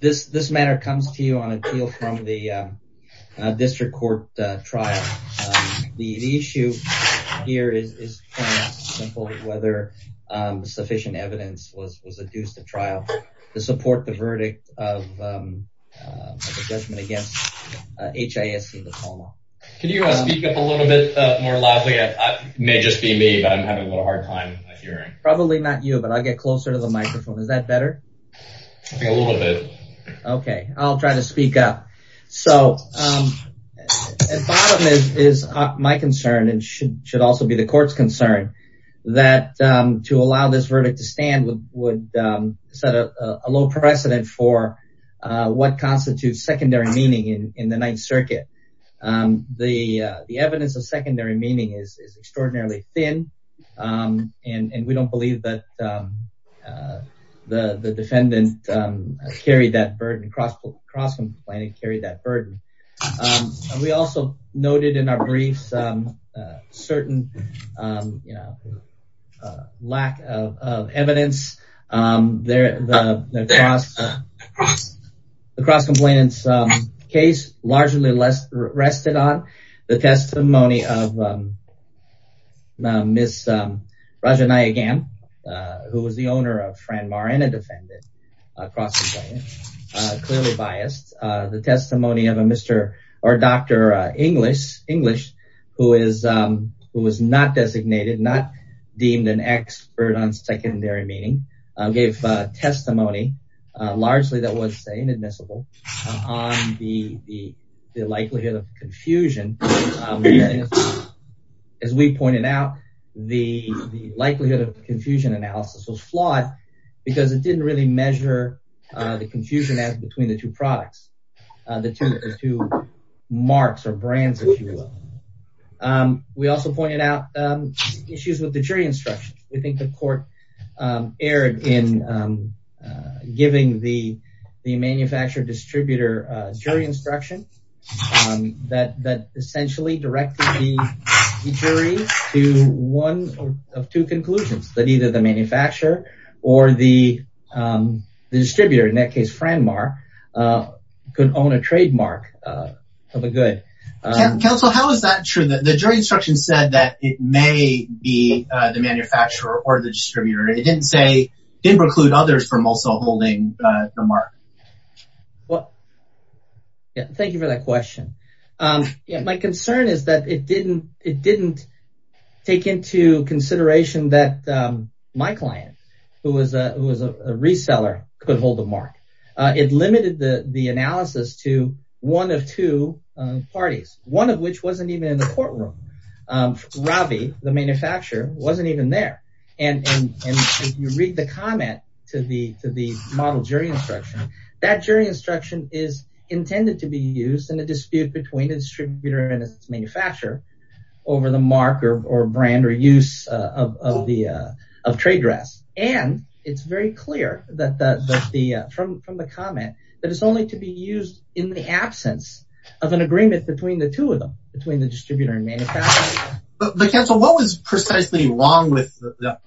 This matter comes to you on appeal from the District Court trial. The issue here is whether sufficient evidence was adduced at trial to support the verdict of the judgment against H.I.S.C. Can you speak up a little bit more loudly? It may just be me, but I'm having a little hard time hearing. Probably not you, but I'll get closer to the microphone. Is that better? A little bit. Okay, I'll try to speak up. So, at bottom is my concern, and should also be the court's concern, that to allow this verdict to stand would set a low precedent for what constitutes secondary meaning in the Ninth Circuit. The evidence of secondary meaning is extraordinarily thin, and we don't believe that the defendant carried that burden, cross-complained and carried that burden. We also noted in our briefs certain lack of evidence. The cross-complainant's case largely rested on the testimony of Ms. Raja Nayagam, who was the owner of Franmar and a defendant, cross-complainant, clearly biased. The testimony of Dr. English, who was not designated, not deemed an expert on secondary meaning, gave testimony, largely that was inadmissible, on the likelihood of confusion. As we pointed out, the likelihood of confusion analysis was flawed because it didn't really measure the confusion between the two products, the two marks or brands, if you will. We also pointed out issues with the jury instruction. We think the court erred in giving the manufacturer-distributor jury instruction that essentially directed the jury to one of two conclusions, that either the manufacturer or the distributor, in that case Franmar, could own a trademark of a good. Counsel, how is that true? The jury instruction said that it may be the manufacturer or the distributor. It didn't say, didn't preclude others from also holding the mark. Thank you for that question. My concern is that it didn't take into consideration that my client, who was a reseller, could hold the mark. It limited the analysis to one of two parties, one of which wasn't even in the courtroom. Ravi, the manufacturer, wasn't even there. If you read the comment to the model jury instruction, that jury instruction is intended to be used in a dispute between the distributor and its manufacturer over the mark or brand or use of trade dress. It's very clear from the comment that it's only to be used in the absence of an agreement between the two of them, between the distributor and manufacturer. Counsel, what was precisely wrong with the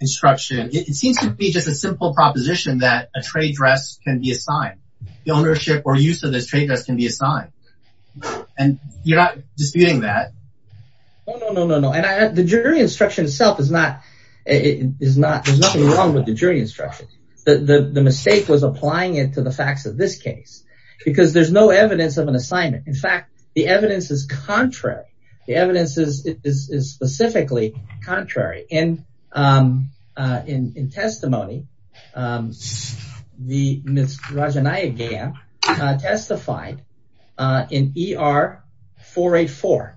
instruction? It seems to be just a simple proposition that a trade dress can be assigned, the ownership or use of this trade dress can be assigned, and you're not disputing that. No, no, no, no. The jury instruction itself is not, there's nothing wrong with the jury instruction. The mistake was applying it to the facts of this case because there's no evidence of an assignment. In fact, the evidence is contrary. The evidence is specifically contrary. In testimony, Ms. Rajanayagam testified in ER 484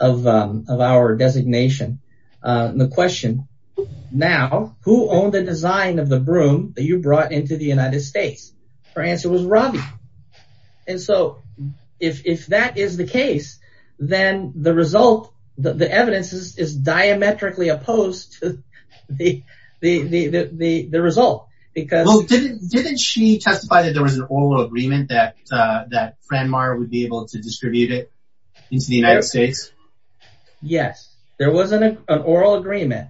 of our designation. The question, now, who owned the design of the broom that you brought into the United States? Her answer was Ravi. And so, if that is the case, then the result, the evidence is diametrically opposed to the result. Well, didn't she testify that there was an oral agreement that Fran Maher would be able to distribute it into the United States? Yes, there was an oral agreement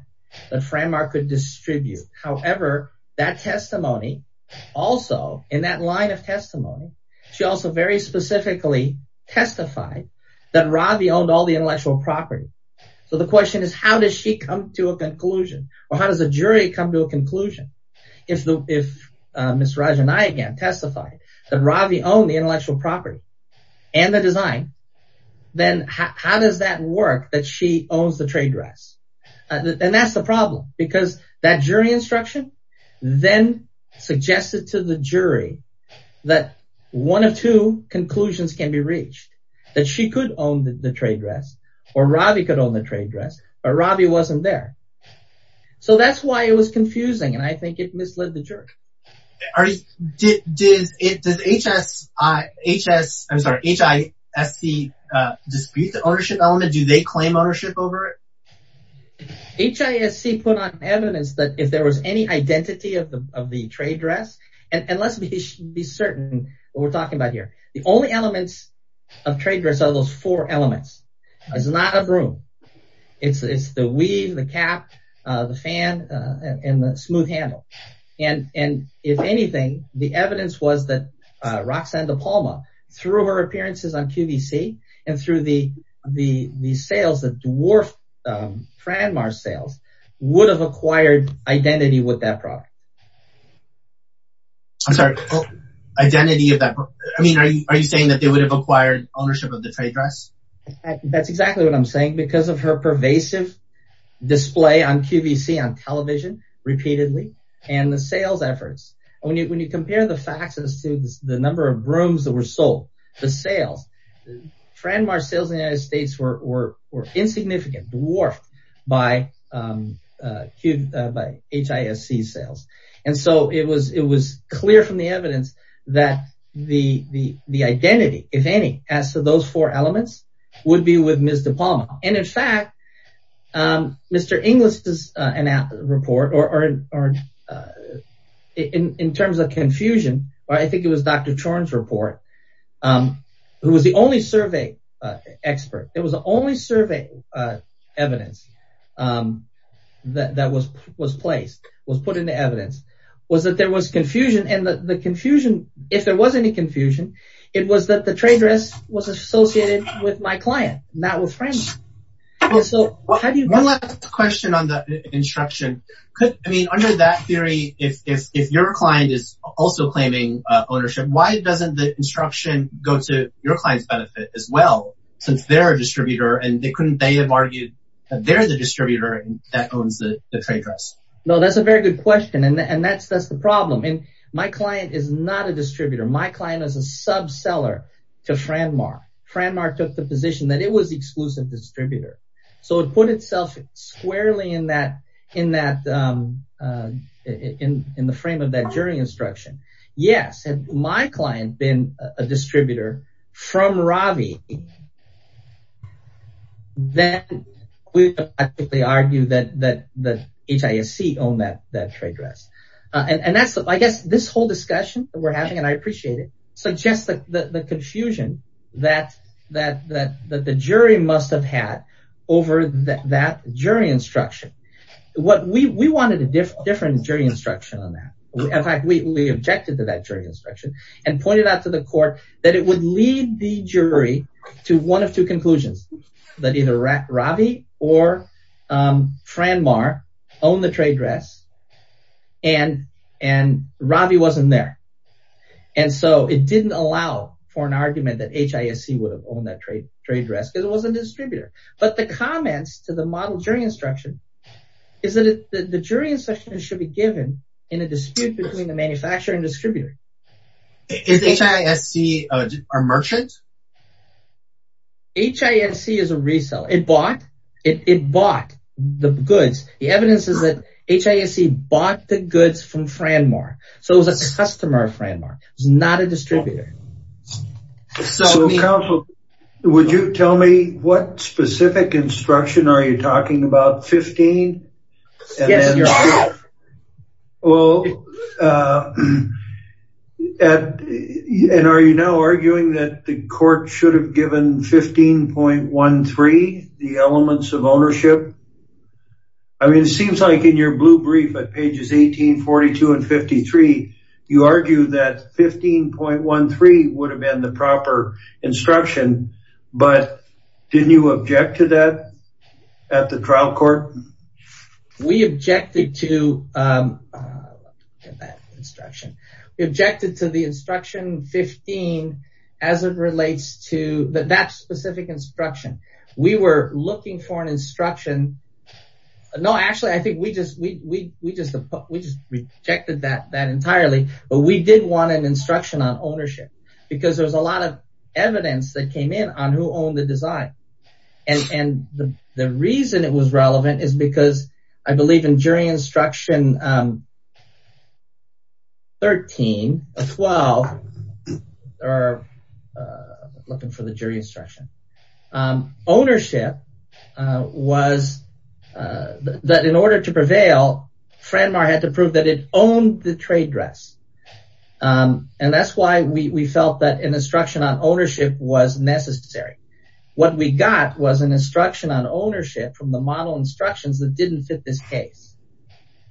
that Fran Maher could distribute. However, that testimony also, in that line of testimony, she also very specifically testified that Ravi owned all the intellectual property. So, the question is, how does she come to a conclusion, or how does a jury come to a conclusion if Ms. Rajanayagam testified that Ravi owned the intellectual property and the design, then how does that work that she owns the trade dress? And that's the problem, because that jury instruction then suggested to the jury that one of two conclusions can be reached. That she could own the trade dress, or Ravi could own the trade dress, but Ravi wasn't there. So, that's why it was confusing, and I think it misled the jury. Does HISC dispute the ownership element? Do they claim ownership over it? HISC put on evidence that if there was any identity of the trade dress, and let's be certain what we're talking about here. The only elements of trade dress are those four elements. It's not a broom. It's the weave, the cap, the fan, and the smooth handle. And if anything, the evidence was that Roxanne de Palma, through her appearances on QVC, and through the sales that dwarfed Fran Mar's sales, would have acquired identity with that property. I'm sorry, identity of that property. I mean, are you saying that they would have acquired ownership of the trade dress? That's exactly what I'm saying, because of her pervasive display on QVC on television, repeatedly, and the sales efforts. When you compare the facts as to the number of brooms that were sold, the sales, Fran Mar's sales in the United States were insignificant, dwarfed by HISC's sales. And so, it was clear from the evidence that the identity, if any, as to those four elements, would be with Ms. de Palma. And in fact, Mr. Inglis's report, or in terms of confusion, or I think it was Dr. Chorn's report, who was the only survey expert, it was the only survey evidence that was placed, was put into evidence, was that there was confusion. And the confusion, if there was any confusion, it was that the trade dress was associated with my client, not with Fran Mar. One last question on the instruction. I mean, under that theory, if your client is also claiming ownership, why doesn't the instruction go to your client's benefit as well, since they're a distributor, and couldn't they have argued that they're the distributor that owns the trade dress? No, that's a very good question, and that's the problem. My client is not a distributor. My client is a subseller to Fran Mar. Fran Mar took the position that it was the exclusive distributor. So it put itself squarely in the frame of that jury instruction. Yes, had my client been a distributor from Ravi, then we would have argued that HISC owned that trade dress. And I guess this whole discussion that we're having, and I appreciate it, suggests the confusion that the jury must have had over that jury instruction. We wanted a different jury instruction on that. In fact, we objected to that jury instruction, and pointed out to the court that it would lead the jury to one of two conclusions, that either Ravi or Fran Mar owned the trade dress, and Ravi wasn't there. And so it didn't allow for an argument that HISC would have owned that trade dress, because it wasn't a distributor. But the comments to the model jury instruction is that the jury instruction should be given in a dispute between the manufacturer and distributor. Is HISC a merchant? HISC is a reseller. It bought the goods. The evidence is that HISC bought the goods from Fran Mar. So it was a customer of Fran Mar. It was not a distributor. So counsel, would you tell me what specific instruction are you talking about? 15? Yes, your honor. Well, and are you now arguing that the court should have given 15.13, the elements of ownership? I mean, it seems like in your blue brief at pages 18, 42, and 53, you argue that 15.13 would have been the proper instruction. But didn't you object to that at the trial court? We objected to that instruction. We objected to the instruction 15 as it relates to that specific instruction. We were looking for an instruction. No, actually, I think we just rejected that entirely. But we did want an instruction on ownership, because there's a lot of evidence that came in on who owned the design. And the reason it was relevant is because I believe in jury instruction 13, 12 are looking for the jury instruction. Ownership was that in order to prevail, Fran Mar had to prove that it owned the trade dress. And that's why we felt that an instruction on ownership was necessary. What we got was an instruction on ownership from the model instructions that didn't fit this case.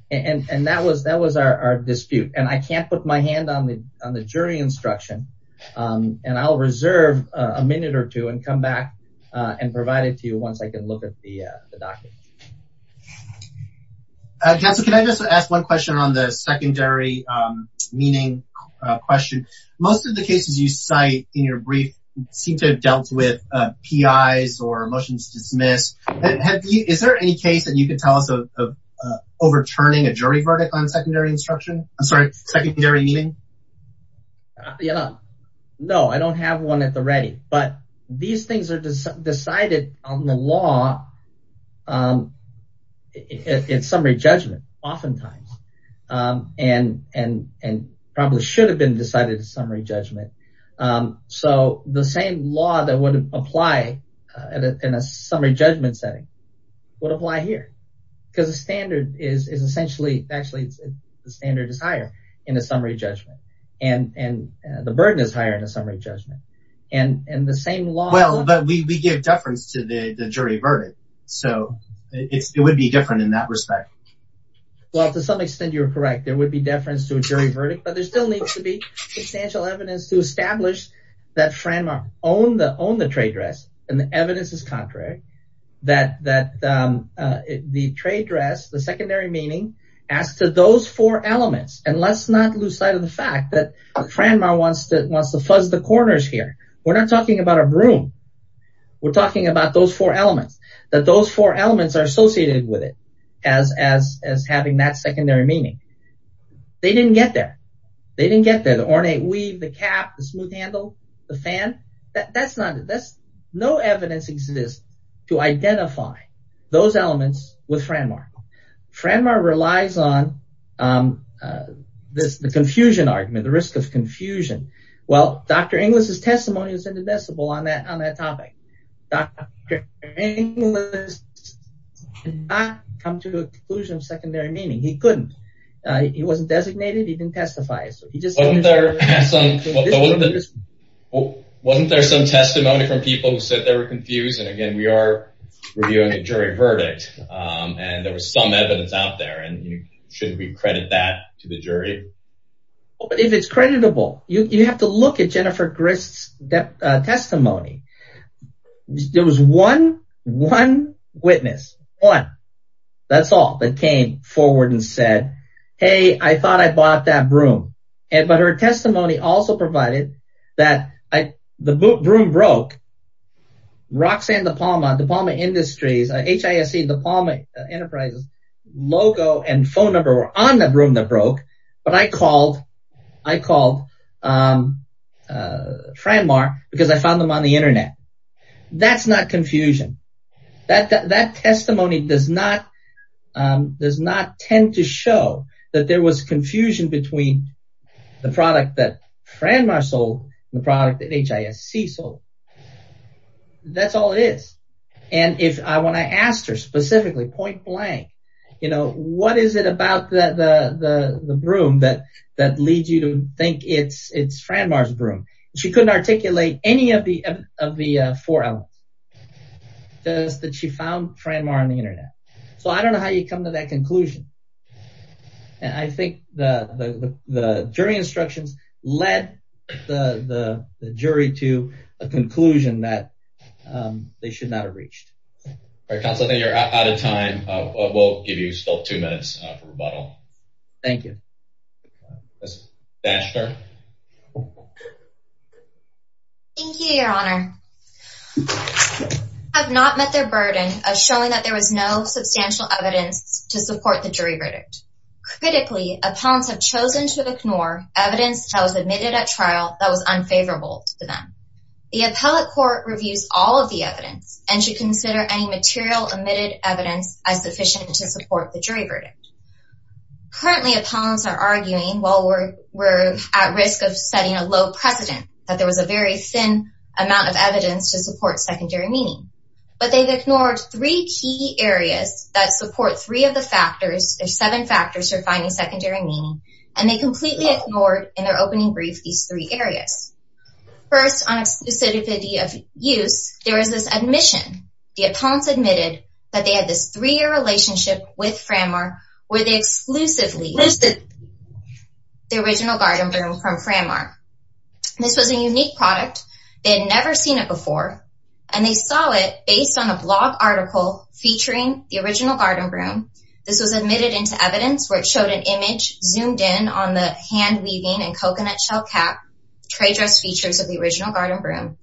And that was our dispute. And I can't put my hand on the jury instruction. And I'll reserve a minute or two and come back and provide it to you once I can look at the document. Counsel, can I just ask one question on the secondary meaning question? Most of the cases you cite in your brief seem to have dealt with PIs or motions dismissed. Is there any case that you could tell us of overturning a jury verdict on secondary instruction? I'm sorry, secondary meaning? No, I don't have one at the ready. But these things are decided on the law in summary judgment oftentimes, and probably should have been decided in summary judgment. So the same law that would apply in a summary judgment setting would apply here. Because the standard is essentially, actually, the standard is higher in a summary judgment. And the burden is higher in a summary judgment. And the same law… Well, but we give deference to the jury verdict. So it would be different in that respect. Well, to some extent, you're correct. There would be deference to a jury verdict. But there still needs to be substantial evidence to establish that Franmar owned the trade dress, and the evidence is contrary, that the trade dress, the secondary meaning, as to those four elements. And let's not lose sight of the fact that Franmar wants to fuzz the corners here. We're not talking about a broom. We're talking about those four elements, that those four elements are associated with it as having that secondary meaning. They didn't get there. They didn't get there. The ornate weave, the cap, the smooth handle, the fan. That's not it. No evidence exists to identify those elements with Franmar. Franmar relies on the confusion argument, the risk of confusion. Well, Dr. Inglis' testimony was indivisible on that topic. Dr. Inglis did not come to a conclusion of secondary meaning. He couldn't. He wasn't designated. He didn't testify. Wasn't there some testimony from people who said they were confused? And again, we are reviewing a jury verdict. And there was some evidence out there. And shouldn't we credit that to the jury? Well, if it's creditable, you have to look at Jennifer Grist's testimony. There was one witness, one. That's all that came forward and said, hey, I thought I bought that broom. But her testimony also provided that the broom broke. Roxanne DePalma, DePalma Industries, HISC, DePalma Enterprises, logo and phone number were on the broom that broke. But I called Franmar because I found them on the Internet. That's not confusion. That testimony does not tend to show that there was confusion between the product that Franmar sold and the product that HISC sold. That's all it is. And when I asked her specifically, point blank, what is it about the broom that leads you to think it's Franmar's broom? She couldn't articulate any of the four elements. Just that she found Franmar on the Internet. So I don't know how you come to that conclusion. And I think the jury instructions led the jury to a conclusion that they should not have reached. All right, Counselor, I think you're out of time. We'll give you still two minutes for rebuttal. Thank you. Ms. Daschner. Thank you, Your Honor. Appellants have not met their burden of showing that there was no substantial evidence to support the jury verdict. Critically, appellants have chosen to ignore evidence that was admitted at trial that was unfavorable to them. The appellate court reviews all of the evidence and should consider any material omitted evidence as sufficient to support the jury verdict. Currently, appellants are arguing, while we're at risk of setting a low precedent, that there was a very thin amount of evidence to support secondary meaning. But they've ignored three key areas that support three of the factors, or seven factors, for finding secondary meaning. And they completely ignored, in their opening brief, these three areas. First, on exclusivity of use, there is this admission. The appellants admitted that they had this three-year relationship with Framar, where they exclusively used the original garden broom from Framar. This was a unique product. They had never seen it before. And they saw it based on a blog article featuring the original garden broom. This was admitted into evidence, where it showed an image zoomed in on the hand-weaving and coconut shell cap, trade dress features of the original garden broom.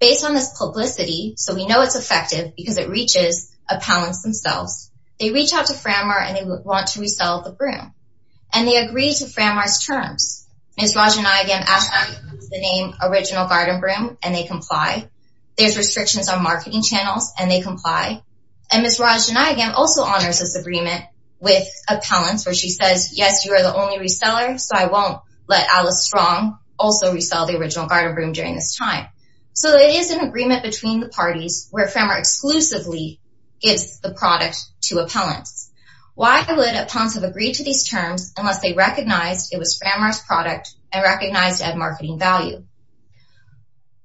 Based on this publicity, so we know it's effective because it reaches appellants themselves, they reach out to Framar and they want to resell the broom. And they agree to Framar's terms. Ms. Rajanayagam asks them to use the name original garden broom, and they comply. There's restrictions on marketing channels, and they comply. And Ms. Rajanayagam also honors this agreement with appellants, where she says, yes, you are the only reseller, so I won't let Alice Strong also resell the original garden broom during this time. So it is an agreement between the parties, where Framar exclusively gives the product to appellants. Why would appellants have agreed to these terms unless they recognized it was Framar's product and recognized it had marketing value?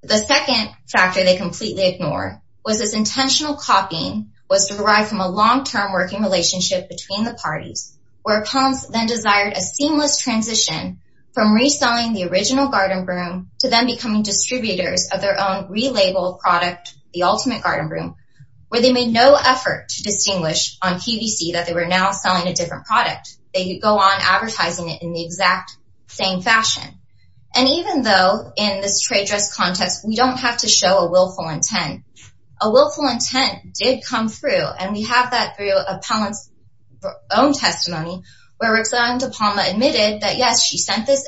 The second factor they completely ignore was this intentional copying was derived from a long-term working relationship between the parties, where appellants then desired a seamless transition from reselling the original garden broom to then becoming distributors of their own relabeled product, the ultimate garden broom, where they made no effort to distinguish on PVC that they were now selling a different product. They could go on advertising it in the exact same fashion. And even though, in this trade dress context, we don't have to show a willful intent, a willful intent did come through, and we have that through appellants' own testimony, where Roxanne de Palma admitted that, yes, she sent this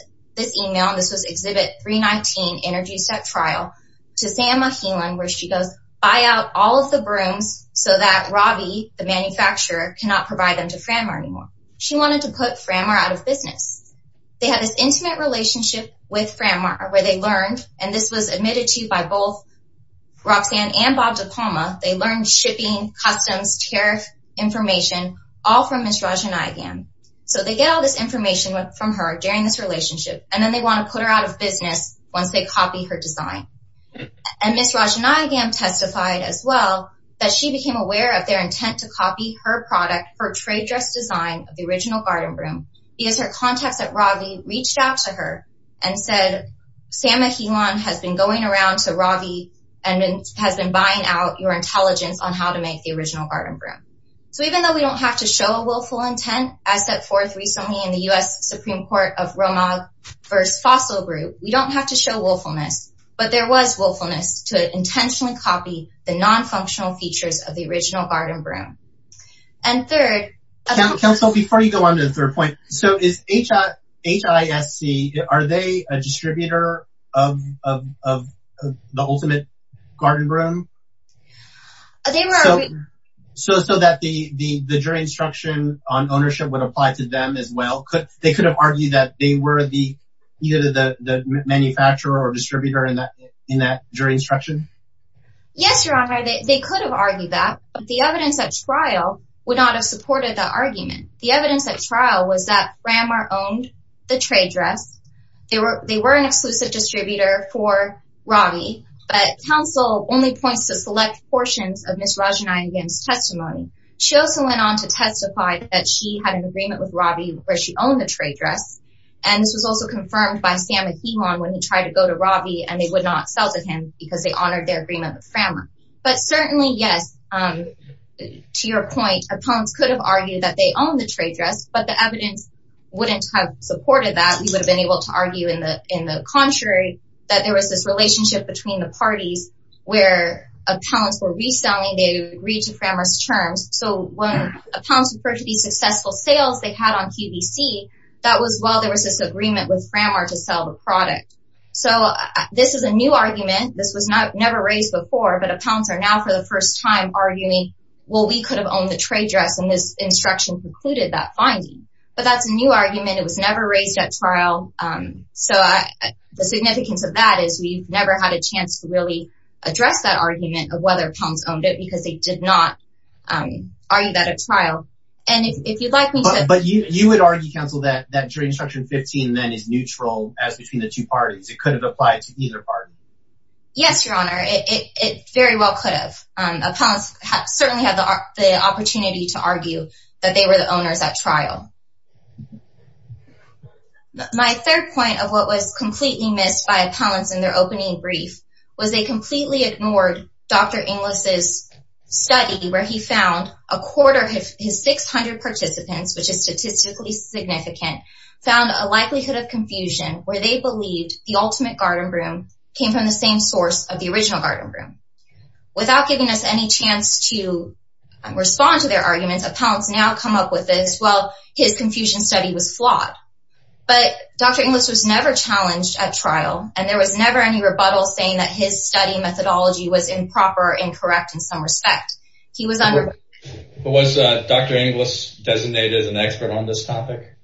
email. This was Exhibit 319, Energy Step Trial, to Sam Mahilan, where she goes, buy out all of the brooms so that Ravi, the manufacturer, cannot provide them to Framar anymore. She wanted to put Framar out of business. They had this intimate relationship with Framar where they learned, and this was admitted to by both Roxanne and Bob de Palma, they learned shipping, customs, tariff information, all from Ms. Rajanayagam. So they get all this information from her during this relationship, and then they want to put her out of business once they copy her design. And Ms. Rajanayagam testified as well that she became aware of their intent to copy her product, her trade dress design of the original garden broom, because her contacts at Ravi reached out to her and said, Sam Mahilan has been going around to Ravi and has been buying out your intelligence on how to make the original garden broom. So even though we don't have to show a willful intent, as set forth recently in the U.S. Supreme Court of Romog v. Fossil Group, we don't have to show willfulness, but there was willfulness to intentionally copy the non-functional features of the original garden broom. And third... Counsel, before you go on to the third point, so is HISC, are they a distributor of the ultimate garden broom? They were... So that the jury instruction on ownership would apply to them as well? They could have argued that they were either the manufacturer or distributor in that jury instruction? Yes, Your Honor, they could have argued that, but the evidence at trial would not have supported that argument. The evidence at trial was that Ramar owned the trade dress. They were an exclusive distributor for Ravi, but counsel only points to select portions of Ms. Rajanayagam's testimony. She also went on to testify that she had an agreement with Ravi where she owned the trade dress, and this was also confirmed by Sam Ahimon when he tried to go to Ravi and they would not sell to him because they honored their agreement with Ramar. But certainly, yes, to your point, appellants could have argued that they owned the trade dress, but the evidence wouldn't have supported that. We would have been able to argue in the contrary that there was this relationship between the parties where appellants were reselling, they agreed to Ramar's terms. So when appellants referred to the successful sales they had on QVC, that was while there was this agreement with Ramar to sell the product. So this is a new argument. This was never raised before, but appellants are now for the first time arguing, well, we could have owned the trade dress, and this instruction concluded that finding. But that's a new argument. It was never raised at trial. So the significance of that is we've never had a chance to really address that argument of whether appellants owned it because they did not argue that at trial. And if you'd like me to… But you would argue, counsel, that trade instruction 15 then is neutral as between the two parties. It could have applied to either party. Yes, Your Honor. It very well could have. Appellants certainly had the opportunity to argue that they were the owners at trial. My third point of what was completely missed by appellants in their opening brief was they completely ignored Dr. Inglis' study where he found a quarter of his 600 participants, which is statistically significant, found a likelihood of confusion where they believed the ultimate garden broom came from the same source of the original garden broom. Without giving us any chance to respond to their arguments, appellants now come up with this, well, his confusion study was flawed. But Dr. Inglis was never challenged at trial, and there was never any rebuttal saying that his study methodology was improper or incorrect in some respect. He was… But was Dr. Inglis designated as an expert on this topic?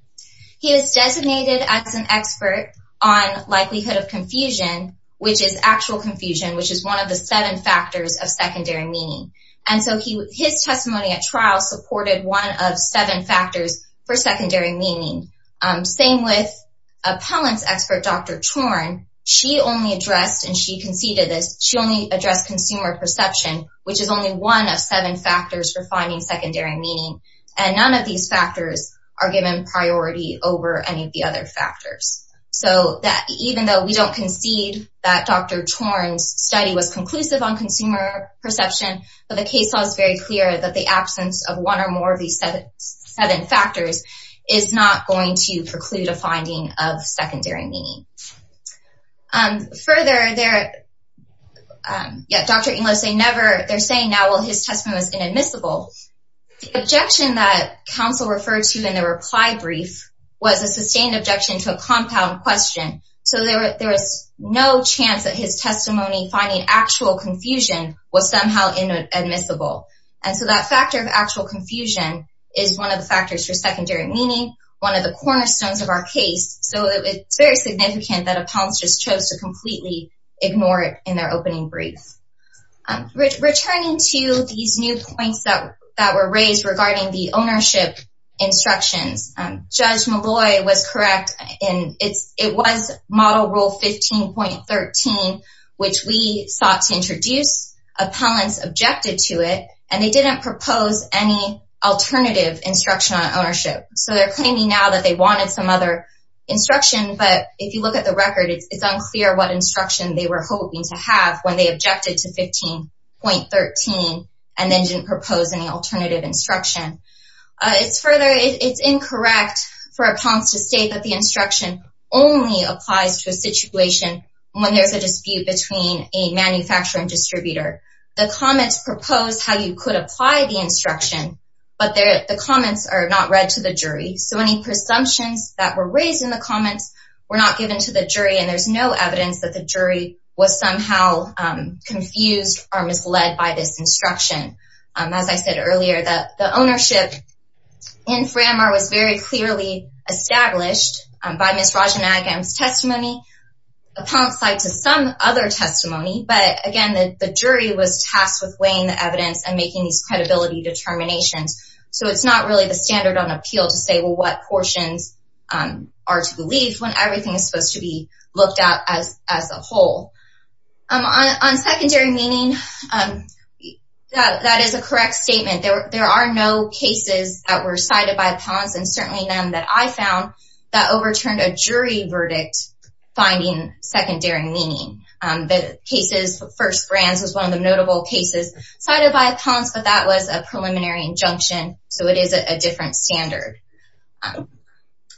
He was designated as an expert on likelihood of confusion, which is actual confusion, which is one of the seven factors of secondary meaning. And so his testimony at trial supported one of seven factors for secondary meaning. Same with appellant's expert, Dr. Torn. She only addressed, and she conceded this, she only addressed consumer perception, which is only one of seven factors for finding secondary meaning. And none of these factors are given priority over any of the other factors. So even though we don't concede that Dr. Torn's study was conclusive on consumer perception, but the case law is very clear that the absence of one or more of these seven factors is not going to preclude a finding of secondary meaning. Further, Dr. Inglis, they're saying now, well, his testimony was inadmissible. The objection that counsel referred to in the reply brief was a sustained objection to a compound question. So there was no chance that his testimony finding actual confusion was somehow inadmissible. And so that factor of actual confusion is one of the factors for secondary meaning, one of the cornerstones of our case. So it's very significant that appellants just chose to completely ignore it in their opening brief. Returning to these new points that were raised regarding the ownership instructions, Judge Malloy was correct. And it was Model Rule 15.13, which we sought to introduce. Appellants objected to it, and they didn't propose any alternative instruction on ownership. So they're claiming now that they wanted some other instruction, but if you look at the record, it's unclear what instruction they were hoping to have when they objected to 15.13 and then didn't propose any alternative instruction. It's further, it's incorrect for appellants to state that the instruction only applies to a situation when there's a dispute between a manufacturer and distributor. The comments propose how you could apply the instruction, but the comments are not read to the jury. So any presumptions that were raised in the comments were not given to the jury, and there's no evidence that the jury was somehow confused or misled by this instruction. As I said earlier, the ownership in Framar was very clearly established by Ms. Rajanagam's testimony, appellants lied to some other testimony, but again, the jury was tasked with weighing the evidence and making these credibility determinations. So it's not really the standard on appeal to say what portions are to be leaved when everything is supposed to be looked at as a whole. On secondary meaning, that is a correct statement. There are no cases that were cited by appellants, and certainly none that I found, that overturned a jury verdict finding secondary meaning. The case of First Brands was one of the notable cases cited by appellants, but that was a preliminary injunction, so it is a different standard.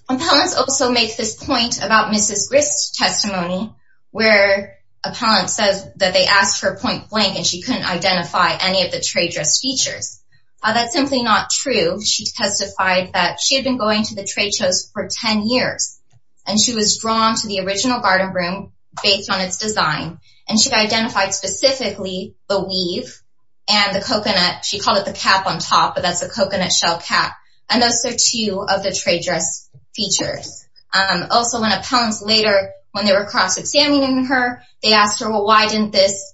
Appellants also make this point about Mrs. Grist's testimony, where appellant says that they asked for a point blank and she couldn't identify any of the trade dress features. That's simply not true. She testified that she had been going to the trade shows for 10 years, and she was drawn to the original garden room based on its design, and she identified specifically the weave and the coconut, she called it the cap on top, but that's a coconut shell cap, and those are two of the trade dress features. Also, when appellants later, when they were cross-examining her, they asked her, well, why didn't this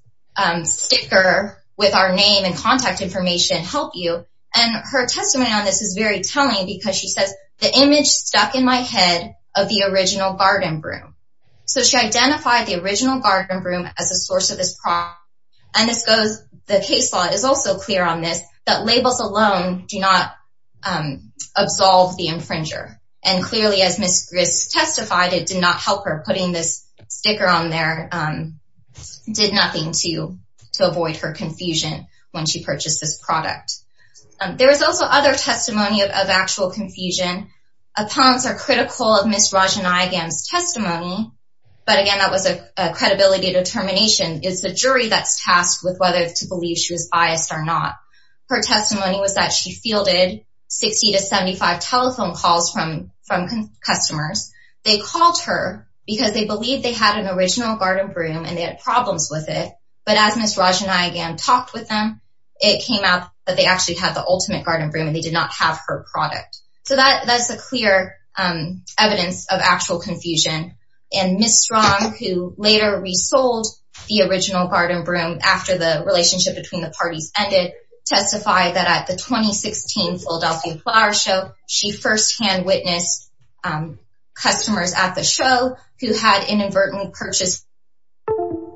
sticker with our name and contact information help you? And her testimony on this is very telling because she says, the image stuck in my head of the original garden room. So she identified the original garden room as a source of this product, and the case law is also clear on this, that labels alone do not absolve the infringer. And clearly, as Mrs. Grist testified, it did not help her. Putting this sticker on there did nothing to avoid her confusion when she purchased this product. There was also other testimony of actual confusion. Appellants are critical of Ms. Rajanayagam's testimony, but again, that was a credibility determination. It's the jury that's tasked with whether to believe she was biased or not. Her testimony was that she fielded 60 to 75 telephone calls from customers. They called her because they believed they had an original garden room and they had problems with it, but as Ms. Rajanayagam talked with them, it came out that they actually had the ultimate garden room and they did not have her product. So that's the clear evidence of actual confusion. And Ms. Strong, who later resold the original garden room after the relationship between the parties ended, testified that at the 2016 Philadelphia Flower Show, she first-hand witnessed customers at the show who had inadvertently purchased the garden room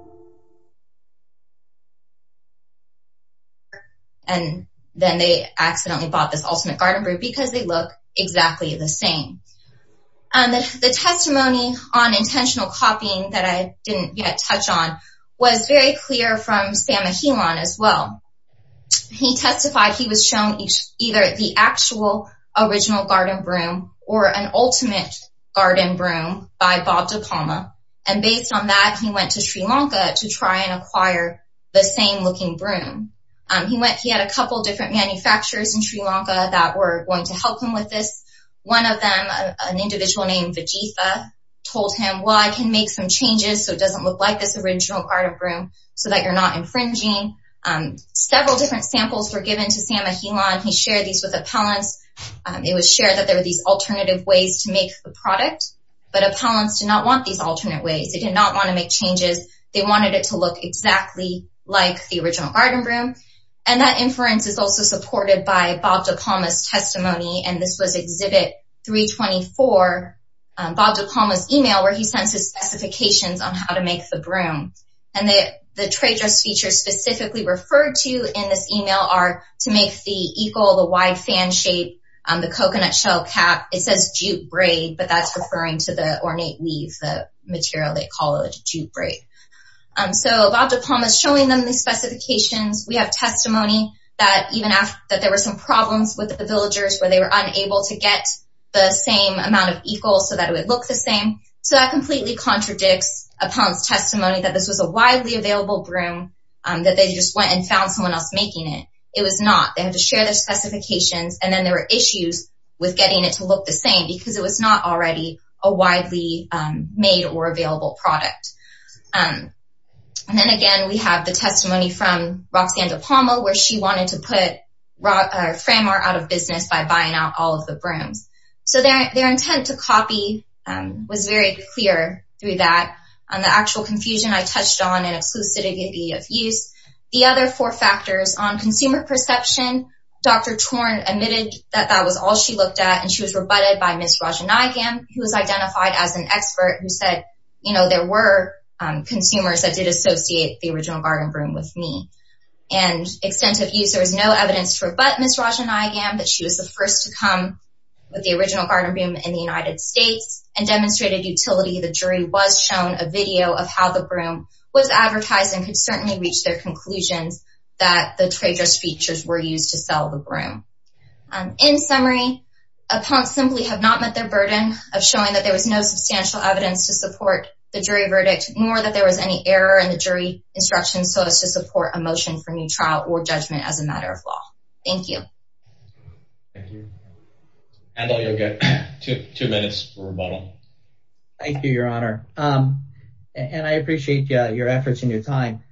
and then they accidentally bought this ultimate garden room because they look exactly the same. The testimony on intentional copying that I didn't yet touch on was very clear from Sam Ahilan as well. He testified he was shown either the actual original garden room or an ultimate garden room by Bob DePalma, and based on that, he went to Sri Lanka to try and acquire the same looking room. He had a couple of different manufacturers in Sri Lanka that were going to help him with this. One of them, an individual named Vajitha, told him, well, I can make some changes so it doesn't look like this original garden room so that you're not infringing. Several different samples were given to Sam Ahilan. He shared these with appellants. It was shared that there were these alternative ways to make the product, but appellants did not want these alternate ways. They did not want to make changes. They wanted it to look exactly like the original garden room. That inference is also supported by Bob DePalma's testimony. This was Exhibit 324, Bob DePalma's email, where he sends his specifications on how to make the broom. The trade dress features specifically referred to in this email are to make the eagle, the wide fan shape, the coconut shell cap. It says jute braid, but that's referring to the ornate weave, the material they call a jute braid. Bob DePalma is showing them these specifications. We have testimony that there were some problems with the villagers where they were unable to get the same amount of eagles so that it would look the same. That completely contradicts appellant's testimony that this was a widely available broom, that they just went and found someone else making it. It was not. They had to share their specifications, and then there were issues with getting it to look the same because it was not already a widely made or available product. Then again, we have the testimony from Roxanne DePalma, where she wanted to put Framart out of business by buying out all of the brooms. Their intent to copy was very clear through that. The actual confusion I touched on in exclusivity of use. The other four factors on consumer perception, Dr. Torn admitted that that was all she looked at, and she was rebutted by Ms. Raja Nayagam, who was identified as an expert who said, you know, there were consumers that did associate the original garden broom with me. In summary, appellants simply have not met their burden of showing that there was no substantial evidence to support the jury verdict, nor that there was any error in the jury instructions so as to support a motion. And I appreciate your efforts and your time.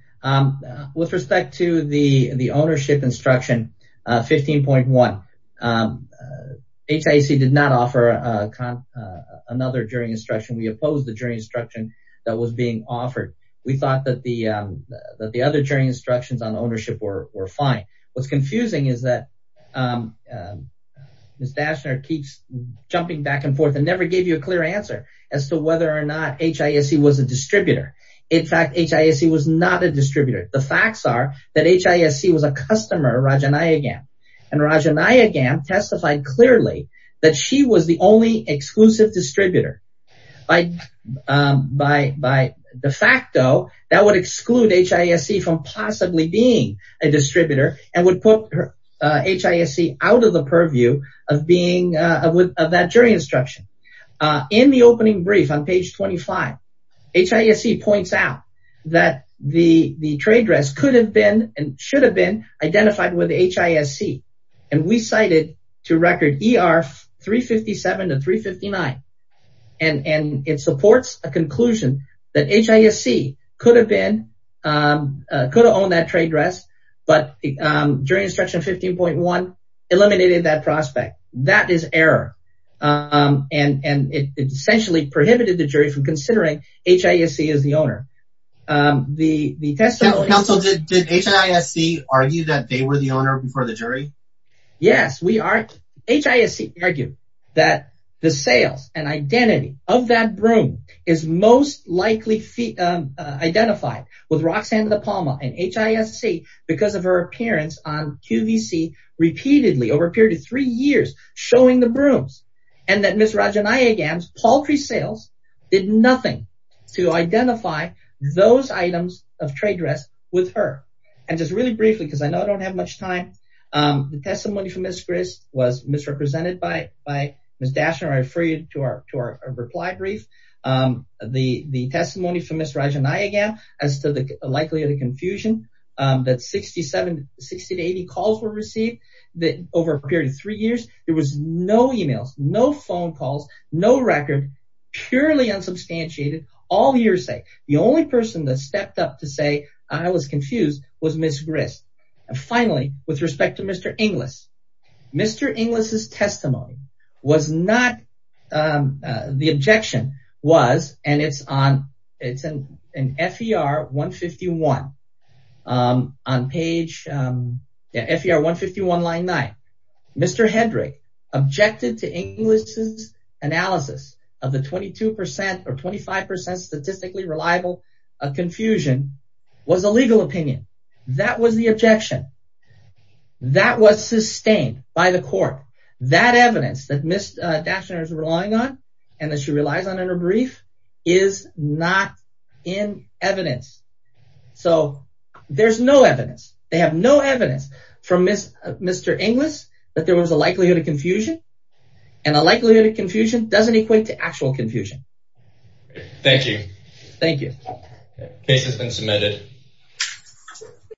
With respect to the ownership instruction 15.1, HIC did not offer another jury instruction. We opposed the jury instruction that was being offered. We thought that the other jury instructions on ownership were fine. What is confusing is that Ms. Daschner keeps jumping back and forth and never gave you a clear answer as to whether or not HIC was a distributor. In fact, HIC was not a distributor. The facts are that HIC was a customer of Raja Nayagam, and Raja Nayagam testified clearly that she was the only exclusive distributor. By de facto, that would exclude HIC from possibly being a distributor and would put HIC out of the purview of that jury instruction. In the opening brief on page 25, HIC points out that the trade dress could have been and should have been identified with HIC. And we cited to record ER 357 and 359. And it supports a conclusion that HIC could have been, could have owned that trade dress, but jury instruction 15.1 eliminated that prospect. That is error. And it essentially prohibited the jury from considering HIC as the owner. So did HIC argue that they were the owner before the jury? And just really briefly, because I know I don't have much time, the testimony from Ms. Gris was misrepresented by Ms. Daschner. I refer you to our reply brief. The testimony from Ms. Raja Nayagam as to the likelihood of confusion that 60 to 80 calls were received over a period of three years, there was no emails, no phone calls, no record, purely unsubstantiated, all hearsay. The only person that stepped up to say I was confused was Ms. Gris. And finally, with respect to Mr. Inglis, Mr. Inglis' testimony was not, the objection was, and it's on, it's in FER 151, on page, FER 151 line 9. Mr. Hendrick objected to Inglis' analysis of the 22% or 25% statistically reliable of confusion was a legal opinion. That was the objection. That was sustained by the court. That evidence that Ms. Daschner is relying on and that she relies on in her brief is not in evidence. So, there's no evidence. They have no evidence from Mr. Inglis that there was a likelihood of confusion, and a likelihood of confusion doesn't equate to actual confusion. Thank you. Thank you. Case has been submitted.